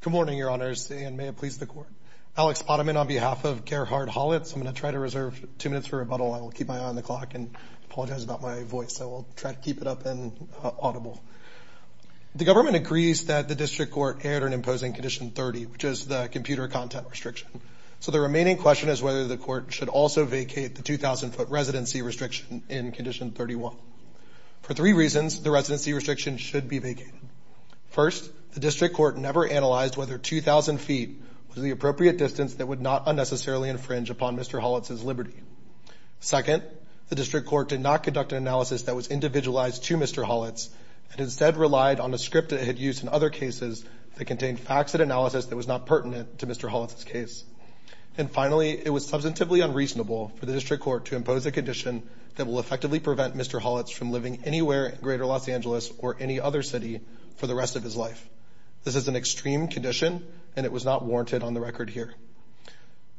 Good morning, your honors, and may it please the court. Alex Potaman on behalf of Gerhard Hollatz. I'm going to try to reserve two minutes for rebuttal. I will keep my eye on the clock and apologize about my voice. I will try to keep it up and audible. The government agrees that the district court aired an imposing condition 30, which is the computer content restriction. The remaining question is whether the court should also vacate the 2,000 foot residency restriction in condition 31. For three reasons, the residency restriction should be vacated. First, the district court never analyzed whether 2,000 feet was the appropriate distance that would not unnecessarily infringe upon Mr. Hollatz's liberty. Second, the district court did not conduct an analysis that was individualized to Mr. Hollatz and instead relied on a script it had used in other cases that contained facts and analysis that was not pertinent to Mr. Hollatz. And finally, it was substantively unreasonable for the district court to impose a condition that will effectively prevent Mr. Hollatz from living anywhere in greater Los Angeles or any other city for the rest of his life. This is an extreme condition and it was not warranted on the record here.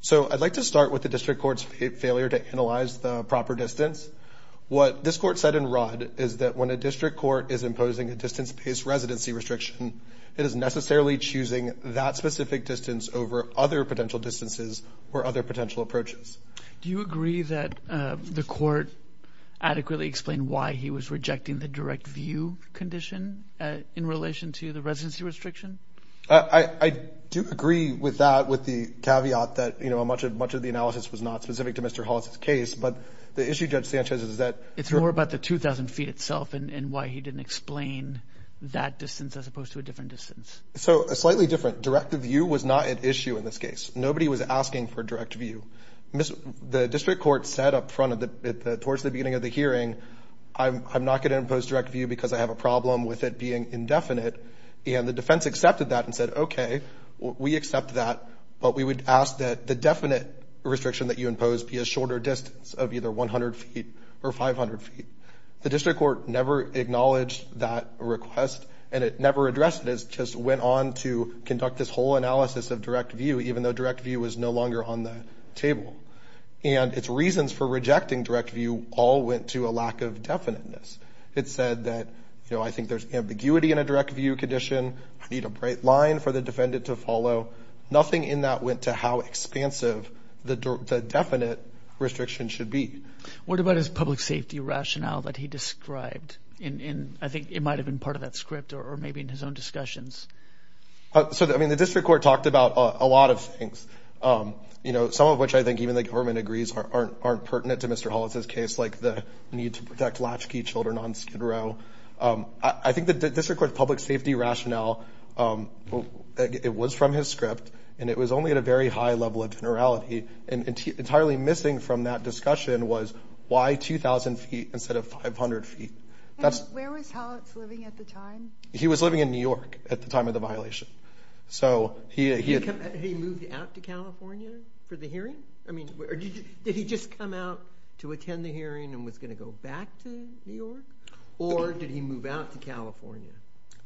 So I'd like to start with the district court's failure to analyze the proper distance. What this court said in Rod is that when a district court is imposing a distance-based residency restriction, it is necessarily choosing that specific distance over other potential distances or other potential approaches. Do you agree that the court adequately explained why he was rejecting the direct view condition in relation to the residency restriction? I do agree with that, with the caveat that, you know, much of the analysis was not specific to Mr. Hollatz's case. But the issue, Judge Sanchez, is that it's more about the 2,000 feet itself and why he didn't explain that distance as opposed to a different distance. So a slightly different direct view was not an issue in this case. Nobody was asking for direct view. The district court said up front towards the beginning of the hearing, I'm not going to impose direct view because I have a problem with it being indefinite. And the defense accepted that and said, okay, we accept that, but we would ask that the definite restriction that you impose be a shorter distance of either 100 feet or 500 feet. The district court never acknowledged that request and it never addressed it. It just went on to conduct this whole analysis of direct view, even though direct view is no longer on the table. And its reasons for rejecting direct view all went to a lack of definiteness. It said that, you know, I think there's ambiguity in a direct view condition. I need a bright line for the defendant to follow. Nothing in that went to how expansive the definite restriction should be. What about his public safety rationale that he described? And I think it might have been part of that script or maybe in his own discussions. So, I mean, the district court talked about a lot of things, you know, some of which I think even the government agrees aren't pertinent to Mr. Hollis's case, like the need to protect latchkey children on Skid Row. I think the district court's public safety rationale, it was from his script and it was only at a very high level of generality. And entirely missing from that discussion was why 2,000 feet instead of 500 feet? Where was Hollis living at the time? He was living in New York at the time of the violation. So, he moved out to California for the hearing? I mean, did he just come out to attend the hearing and was going to go back to New York? Or did he move out to California?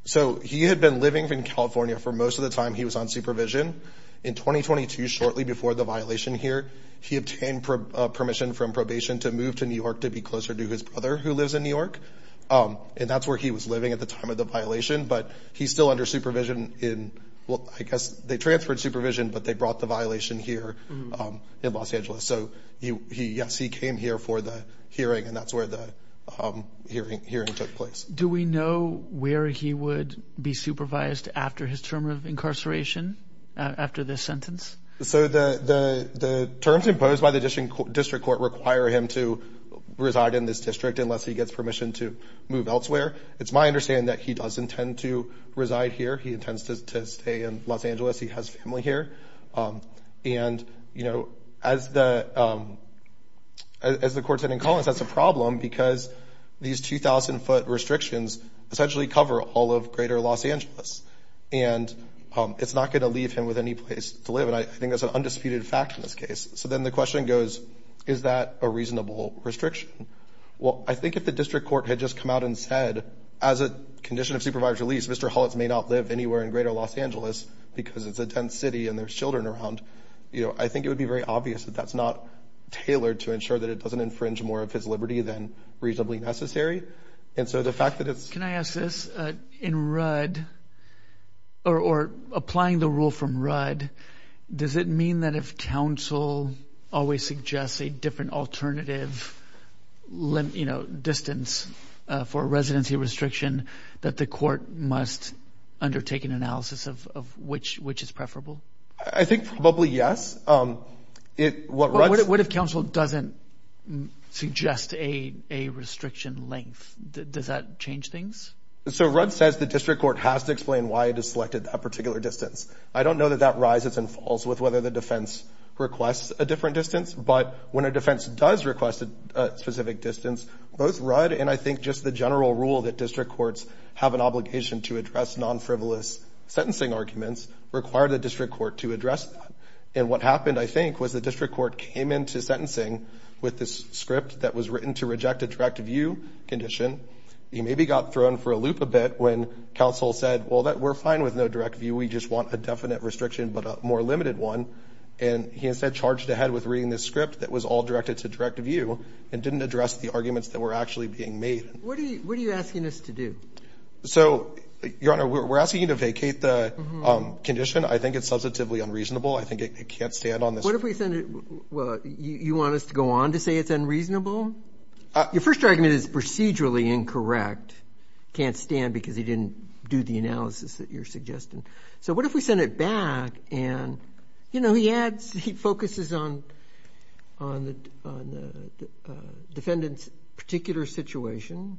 So, he had been living in California for most of the time. He was on supervision in 2022, shortly before the violation here. He obtained permission from probation to move to New York to be closer to his brother who lives in New York. And that's where he was living at the time of the violation, but he's still under supervision in, well, I guess they transferred supervision, but they brought the violation here in Los Angeles. So, yes, he came here for the hearing and that's where the hearing took place. Do we know where he would be supervised after his term of incarceration, after this sentence? So, the terms imposed by the district court require him to reside in this district unless he gets permission to move elsewhere. It's my understanding that he does intend to reside here. He intends to stay in Los Angeles. He has family here. And, you know, as the court said in Collins, that's a problem because these 2,000-foot restrictions essentially cover all of greater Los Angeles. And it's not going to leave him with any place to live. And I think that's an undisputed fact in this case. So, then the question goes, is that a reasonable restriction? Well, I think if the district court had just come out and said, as a condition of supervisor's release, Mr. Hullitz may not live anywhere in greater Los Angeles because it's a dense city and there's children around, you know, I think it would be very obvious that that's not tailored to ensure that it doesn't infringe more of his liberty than reasonably necessary. And so, the fact that it's... Can I ask this? In Rudd, or applying the rule from Rudd, does it mean that if council always suggests a different alternative, you know, distance for residency restriction, that the court must undertake an analysis of which is preferable? I think probably yes. What if council doesn't suggest a restriction length? Does that change things? So, Rudd says the district court has to explain why it has selected that particular distance. I don't know that that rises and falls with whether the defense requests a different distance. But when a defense does request a specific distance, both Rudd and I think just the general rule that district courts have an obligation to address non-frivolous sentencing arguments require the district court to address that. And what happened, I think, was the district court came into sentencing with this script that was written to reject a direct view condition. He maybe got thrown for a loop a bit when council said, well, we're fine with no direct view. We just want a definite restriction but a more limited one. And he instead charged ahead with reading this script that was all directed to direct view and didn't address the arguments that were actually being made. What are you asking us to do? So, Your Honor, we're asking to vacate the condition. I think it's substantively unreasonable. I think it can't stand on this. What if we send it, well, you want us to go on to say it's unreasonable? Your first argument is procedurally incorrect. Can't stand because he didn't do the analysis that you're suggesting. So, what if we send it back and, you know, he adds, he focuses on the defendant's particular situation,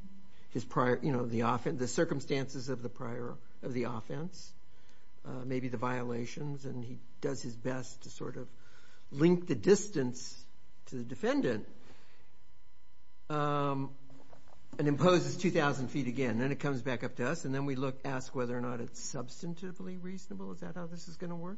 his prior, you know, the offense, the circumstances of the prior of the offense, maybe the violations, and he does his best to sort of link the distance to the defendant and imposes 2,000 feet again. Then it comes back up to us and then we look, ask whether or not it's substantively reasonable. Is that how this is going to work?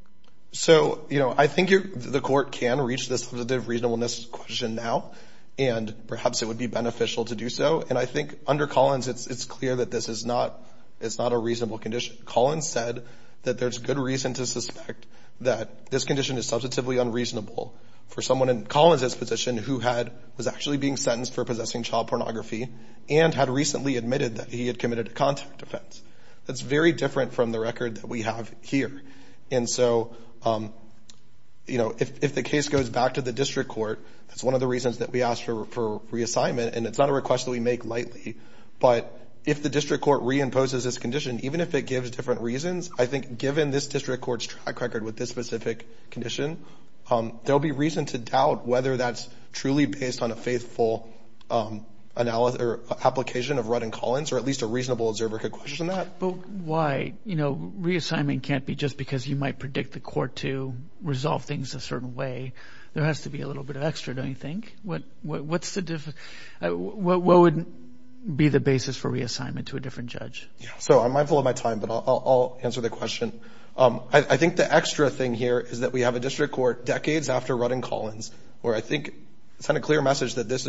So, you know, I think the court can reach this subject of reasonableness question now and perhaps it would be beneficial to do so. And I think under Collins, it's clear that this is not a reasonable condition. Collins said that there's good reason to suspect that this condition is substantively unreasonable for someone in Collins' position who was actually being sentenced for possessing child pornography and had recently admitted that he had committed a contact offense. That's very different from the case goes back to the district court. That's one of the reasons that we asked for reassignment. And it's not a request that we make lightly, but if the district court reimposes this condition, even if it gives different reasons, I think given this district court's track record with this specific condition, there'll be reason to doubt whether that's truly based on a faithful application of Rudd and Collins or at least a reasonable observer could question that. But why? You know, reassignment can't be just because you might predict the court to resolve things a certain way. There has to be a little bit of extra, don't you think? What's the difference? What would be the basis for reassignment to a different judge? So I'm mindful of my time, but I'll answer the question. I think the extra thing here is that we have a district court decades after Rudd and Collins where I think sent a clear message that this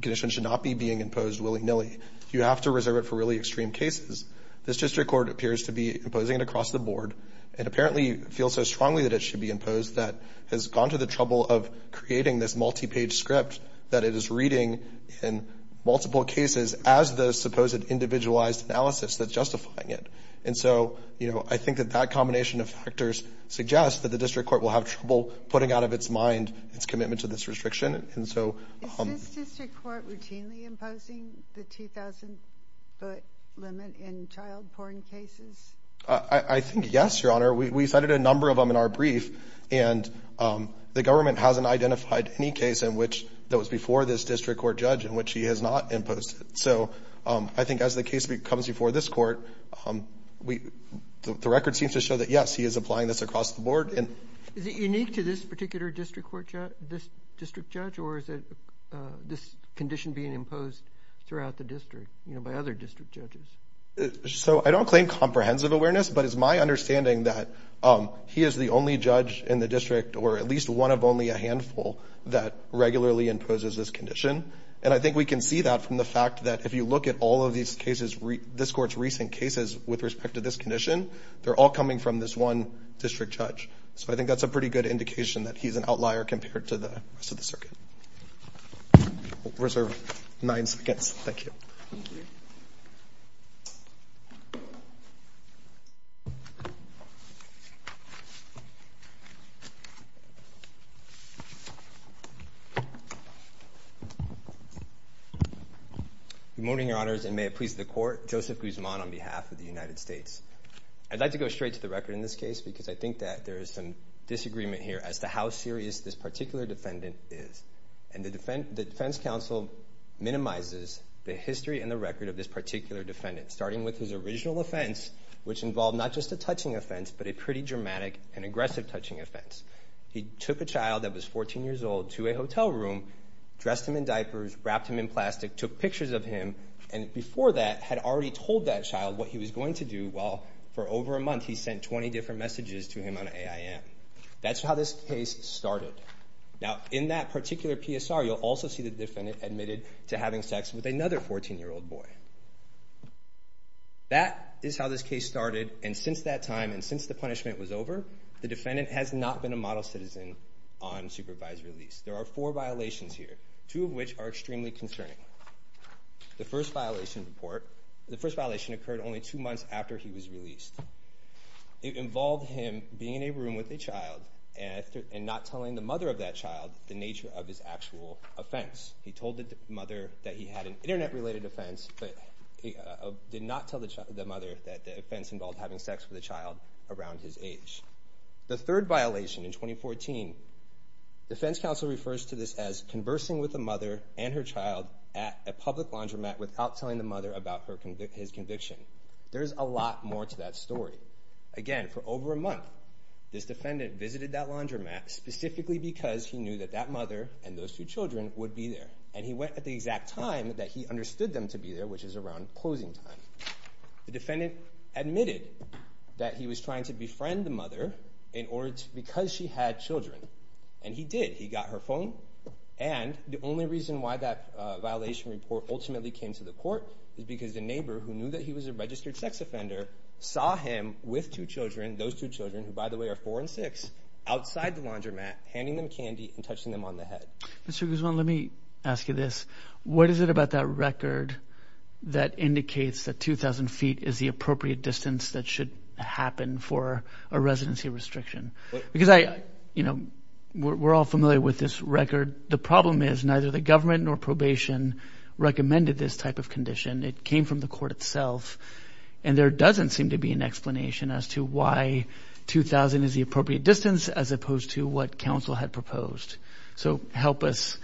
condition should not be being imposed willy-nilly. You have to reserve it for really extreme cases. This district court appears to be imposing it across the board and apparently feels so strongly that it should be imposed that has gone to the trouble of creating this multi-page script that it is reading in multiple cases as the supposed individualized analysis that's justifying it. And so, you know, I think that that combination of factors suggests that the district court will have trouble putting out of its mind its commitment to this restriction. And so... Is this district court routinely imposing the 2,000-foot limit in child porn cases? I think, yes, Your Honor. We cited a number of them in our brief and the government hasn't identified any case in which that was before this district court judge in which he has not imposed it. So I think as the case comes before this court, the record seems to show that, yes, he is applying this across the board and... Is it unique to this particular district court judge, this district judge, or is it this condition being imposed throughout the district, you know, by other district judges? So I don't claim comprehensive awareness, but it's my understanding that he is the only judge in the district or at least one of only a handful that regularly imposes this condition. And I think we can see that from the fact that if you look at all of these cases, this court's recent cases with respect to this condition, they're all coming from this one district judge. So I think that's a pretty good indication that he's an outlier compared to the rest of the circuit. Reserve nine seconds. Thank you. Good morning, Your Honors, and may it please the court. Joseph Guzman on behalf of the United States. I'd like to go straight to the record in this case because I think that there is some disagreement here as to how serious this particular defendant is. And the defense counsel minimizes the history and the record of this particular defendant, starting with his original offense, which involved not just a touching offense, but a pretty dramatic and aggressive touching offense. He took a child that was 14 years old to a hotel room, dressed him in diapers, wrapped him in plastic, took pictures of him, and before that had already told that child what he was going to do while for over a month he sent 20 different messages to him on AIM. That's how this case started. Now, in that particular PSR, you'll also see the defendant admitted to having sex with another 14-year-old boy. That is how this case started, and since that time and since the punishment was over, the defendant has not been a model citizen on supervised release. There are four violations here, two of which are extremely concerning. The first violation occurred only two months after he was released. It involved him being in a room with a child and not telling the mother of that child the nature of his actual offense. He told the mother that he had an internet-related offense, but did not tell the mother that the offense involved having sex with a child around his age. The third violation in 2014, the defense counsel refers to this as conversing with the mother and her child at a public laundromat without telling the mother about his conviction. There's a lot more to that story. Again, for over a month, this defendant visited that laundromat specifically because he knew that that mother and those two children would be there, and he went at the exact time that he understood them to be there, which is around closing time. The defendant admitted that he was trying to befriend the mother because she had children, and he did. He got her phone, and the only reason why that violation report ultimately came to the court is because the neighbor, who knew that he was a registered sex offender, saw him with two children, those two children who, by the way, are four and six, outside the laundromat, handing them candy and touching them on the head. Mr. Guzman, let me ask you this. What is it about that record that indicates that 2,000 feet is the appropriate distance that should happen for a residency restriction? Because I, you know, we're all familiar with this record. The problem is neither the government nor probation recommended this type of condition. It came from the court itself, and there doesn't seem to be an explanation as to why 2,000 is the appropriate distance as opposed to what counsel had proposed. So help us.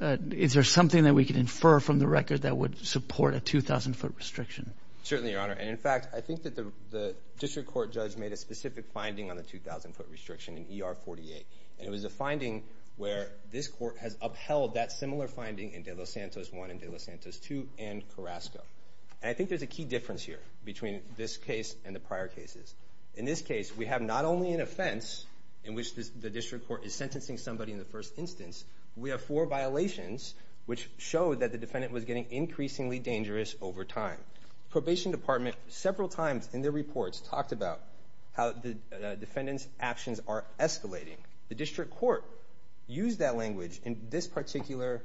Is there something that we could infer from the record that would support a 2,000 foot restriction? Certainly, Your Honor, and in fact, I think that the district court judge made a specific finding on the 2,000 foot restriction in ER 48, and it was a finding where this court has upheld that similar finding in De Los Santos 1 and De Los Santos 2 and Carrasco. And I think there's a key difference here between this case and the prior cases. In this case, we have not only an offense in which the district court is sentencing somebody in the first instance, we have four violations which show that the defendant was getting increasingly dangerous over time. Probation department, several times in their reports, talked about how the defendant's actions are escalating. The district court used that language in this particular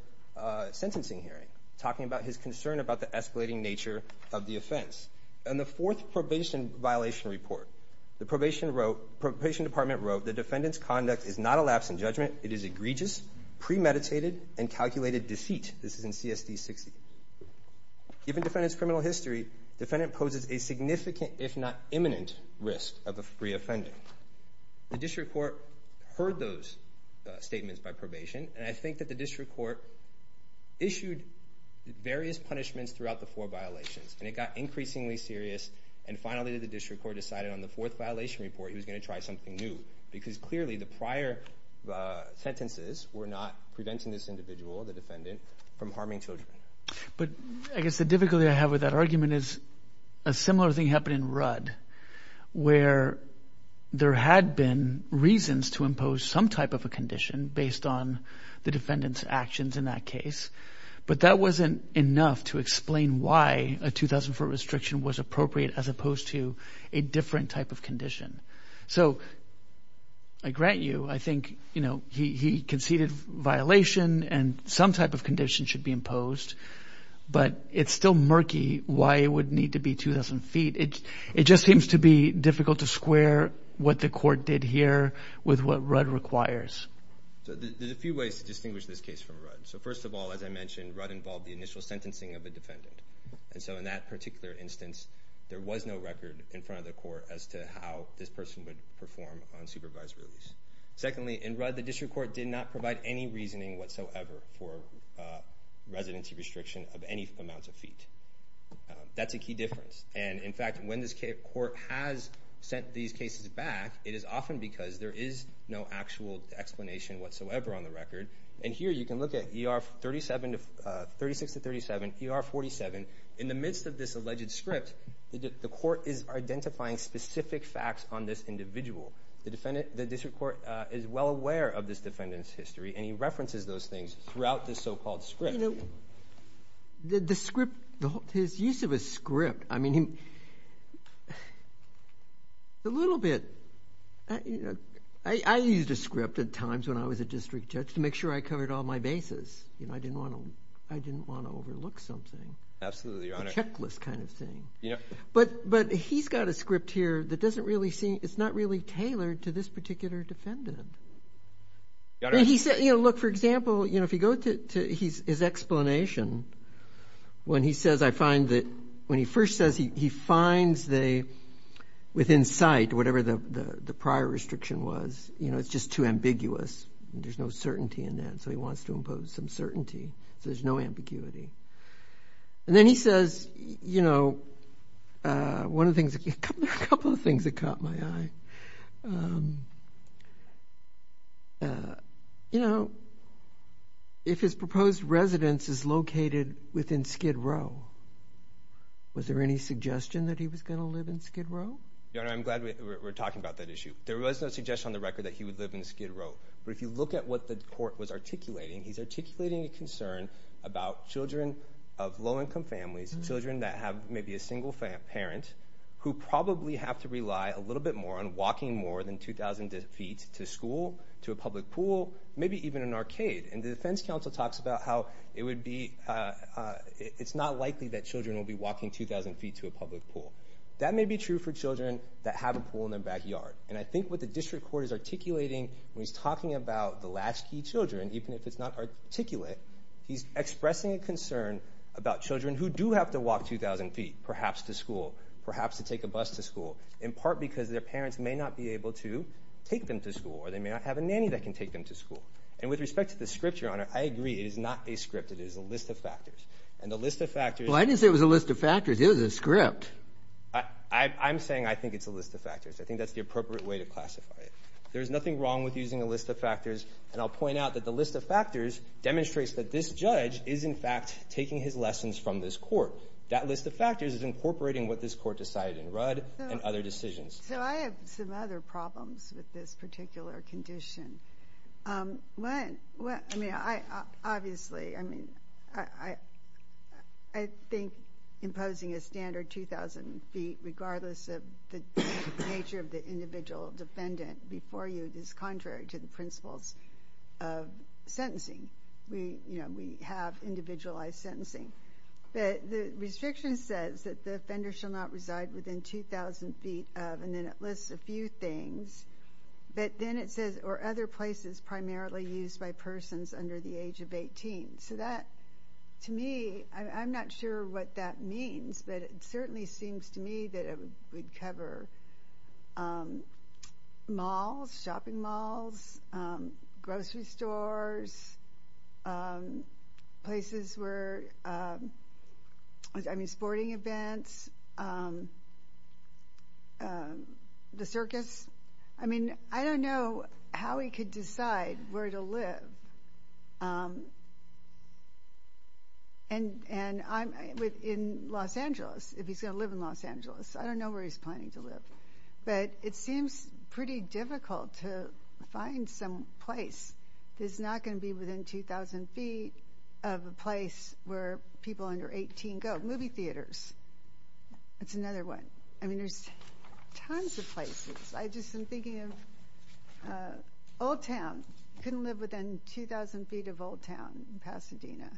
sentencing hearing, talking about his concern about the escalating nature of the offense. In the fourth probation violation report, the probation wrote, probation department wrote, the defendant's conduct is not a lapse in judgment. It is egregious, premeditated, and calculated deceit. This is in CSD 60. Given defendant's criminal history, defendant poses a significant, if not imminent, risk of a free defendant. The district court heard those statements by probation, and I think that the district court issued various punishments throughout the four violations, and it got increasingly serious, and finally the district court decided on the fourth violation report he was going to try something new, because clearly the prior sentences were not preventing this individual, the defendant, from harming children. But I guess the difficulty I have with that argument is a similar thing happened in Rudd, where there had been reasons to impose some type of a condition based on the defendant's actions in that case, but that wasn't enough to explain why a 2,000-foot restriction was appropriate as opposed to a different type of condition. So I grant you, I think, you know, he conceded violation and some type of condition should be But it's still murky why it would need to be 2,000 feet. It just seems to be difficult to square what the court did here with what Rudd requires. So there's a few ways to distinguish this case from Rudd. So first of all, as I mentioned, Rudd involved the initial sentencing of a defendant, and so in that particular instance, there was no record in front of the court as to how this person would perform on supervised release. Secondly, in Rudd, the district court did not provide any reasoning whatsoever for residency restriction of any amount of feet. That's a key difference. And in fact, when this court has sent these cases back, it is often because there is no actual explanation whatsoever on the record. And here you can look at ER 36 to 37, ER 47. In the midst of this alleged script, the court is identifying specific facts on this individual. The district is well aware of this defendant's history, and he references those things throughout this so-called script. You know, the script, his use of a script, I mean, a little bit. I used a script at times when I was a district judge to make sure I covered all my bases. You know, I didn't want to overlook something. Absolutely, Your Honor. A checklist kind of thing. But he's got a script here that doesn't really seem, it's not really tailored to this particular defendant. And he said, you know, look, for example, you know, if you go to his explanation, when he says, I find that when he first says he finds the, within sight, whatever the prior restriction was, you know, it's just too ambiguous. There's no certainty in that. So he wants to impose some certainty. So there's no ambiguity. And then he says, you know, one of the things, a couple of things that caught my eye. You know, if his proposed residence is located within Skid Row, was there any suggestion that he was going to live in Skid Row? Your Honor, I'm glad we're talking about that issue. There was no suggestion on the record that he would live in Skid Row. But if you look at what the court was articulating, he's articulating a concern about children of low-income families, children that have maybe a single parent, who probably have to rely a little bit more on walking more than 2,000 feet to school, to a public pool, maybe even an arcade. And the defense counsel talks about how it would be, it's not likely that children will be walking 2,000 feet to a public pool. That may be true for children that have a pool in their backyard. And I think what the district court is articulating, when he's talking about the latchkey children, even if it's not articulate, he's expressing a concern about children who do have to walk 2,000 feet, perhaps to school, perhaps to take a bus to school, in part because their parents may not be able to take them to school, or they may not have a nanny that can take them to school. And with respect to the script, Your Honor, I agree, it is not a script, it is a list of factors. And the list of factors... Well, I didn't say it was a list of factors, it was a script. I'm saying I think it's a list of factors. I think that's the appropriate way to classify it. There's nothing wrong with using a list of factors, and I'll point out that the list of factors demonstrates that this judge is, in fact, taking his lessons from this court. That list of factors is incorporating what this court decided in Rudd and other decisions. So I have some other problems with this particular condition. One, I mean, obviously, I mean, I think imposing a standard 2,000 feet, regardless of the nature of the individual defendant before you, is contrary to the principles of sentencing. We, you know, we have individualized sentencing. But the restriction says that the offender shall not reside within 2,000 feet of, and then it lists a few things, but then it says, or other places primarily used by persons under the age of 18. So that, to me, I'm not sure what that means, but it certainly seems to me that it would cover malls, shopping malls, grocery stores, places where, I mean, sporting events, the circus. I mean, I don't know how he could decide where to live. And I'm, in Los Angeles, if he's going to live in Los Angeles, I don't know where he's planning to live. But it seems pretty difficult to find some place that's not going to be within 2,000 feet of a place where people under 18 go. Movie theaters, that's another one. I mean, Pasadena.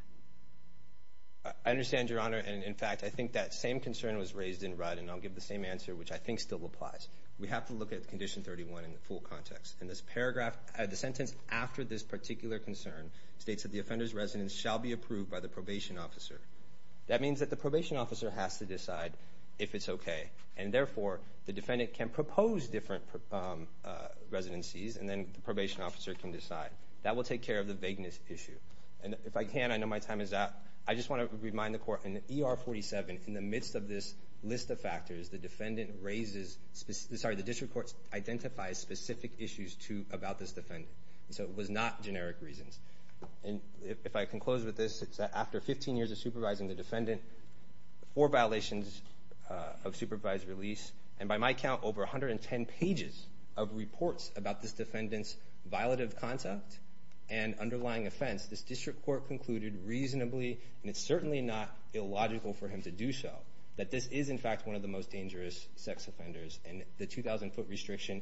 I understand, Your Honor, and in fact, I think that same concern was raised in Rudd, and I'll give the same answer, which I think still applies. We have to look at Condition 31 in the full context. In this paragraph, the sentence after this particular concern states that the offender's residence shall be approved by the probation officer. That means that the probation officer has to decide if it's okay. And therefore, the defendant can propose different residencies, and then the probation officer can decide. That will take care of the vagueness issue. And if I can, I know my time is up. I just want to remind the Court, in ER 47, in the midst of this list of factors, the defendant raises, sorry, the district court identifies specific issues about this defendant. So it was not generic reasons. And if I can close with this, it's that after 15 years of supervising the defendant, four violations of supervised release, and by my count, over 110 pages of reports about this defendant's violative conduct and underlying offense, this district court concluded reasonably, and it's certainly not illogical for him to do so, that this is, in fact, one of the most dangerous sex offenders, and the 2,000-foot restriction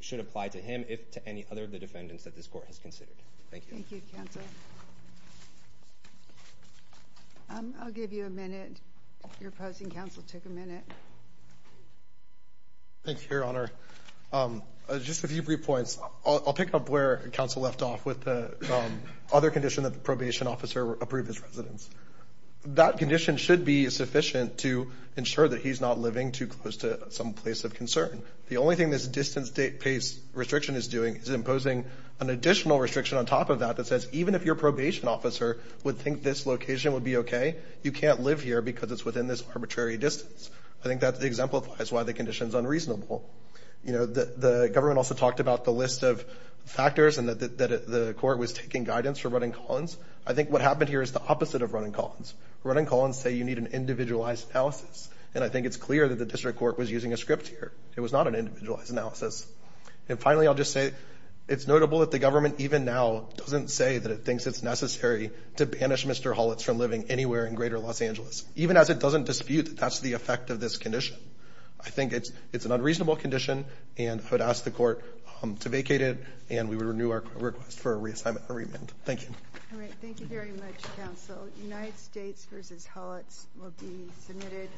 should apply to him, if to any other of the defendants that this Court has considered. Thank you. Thank you, counsel. I'll give you a minute. Your opposing counsel took a minute. Thank you, Your Honor. Just a few brief points. I'll pick up where counsel left off with the other condition that the probation officer approved his residence. That condition should be sufficient to ensure that he's not living too close to some place of concern. The only thing this distance-based restriction is doing is imposing an additional restriction on top of that that says, even if your probation officer would think this location would be okay, you can't live here because it's within this arbitrary distance. I think that exemplifies why the the government also talked about the list of factors and that the Court was taking guidance for running Collins. I think what happened here is the opposite of running Collins. Running Collins say you need an individualized analysis, and I think it's clear that the district court was using a script here. It was not an individualized analysis. And finally, I'll just say it's notable that the government, even now, doesn't say that it thinks it's necessary to banish Mr. Hollitz from living anywhere in greater Los Angeles, even as it doesn't dispute that that's the effect of this condition. I think it's an unreasonable condition and I would ask the Court to vacate it and we would renew our request for a reassignment, a remand. Thank you. All right, thank you very much, counsel. United States v. Hollitz will be submitted.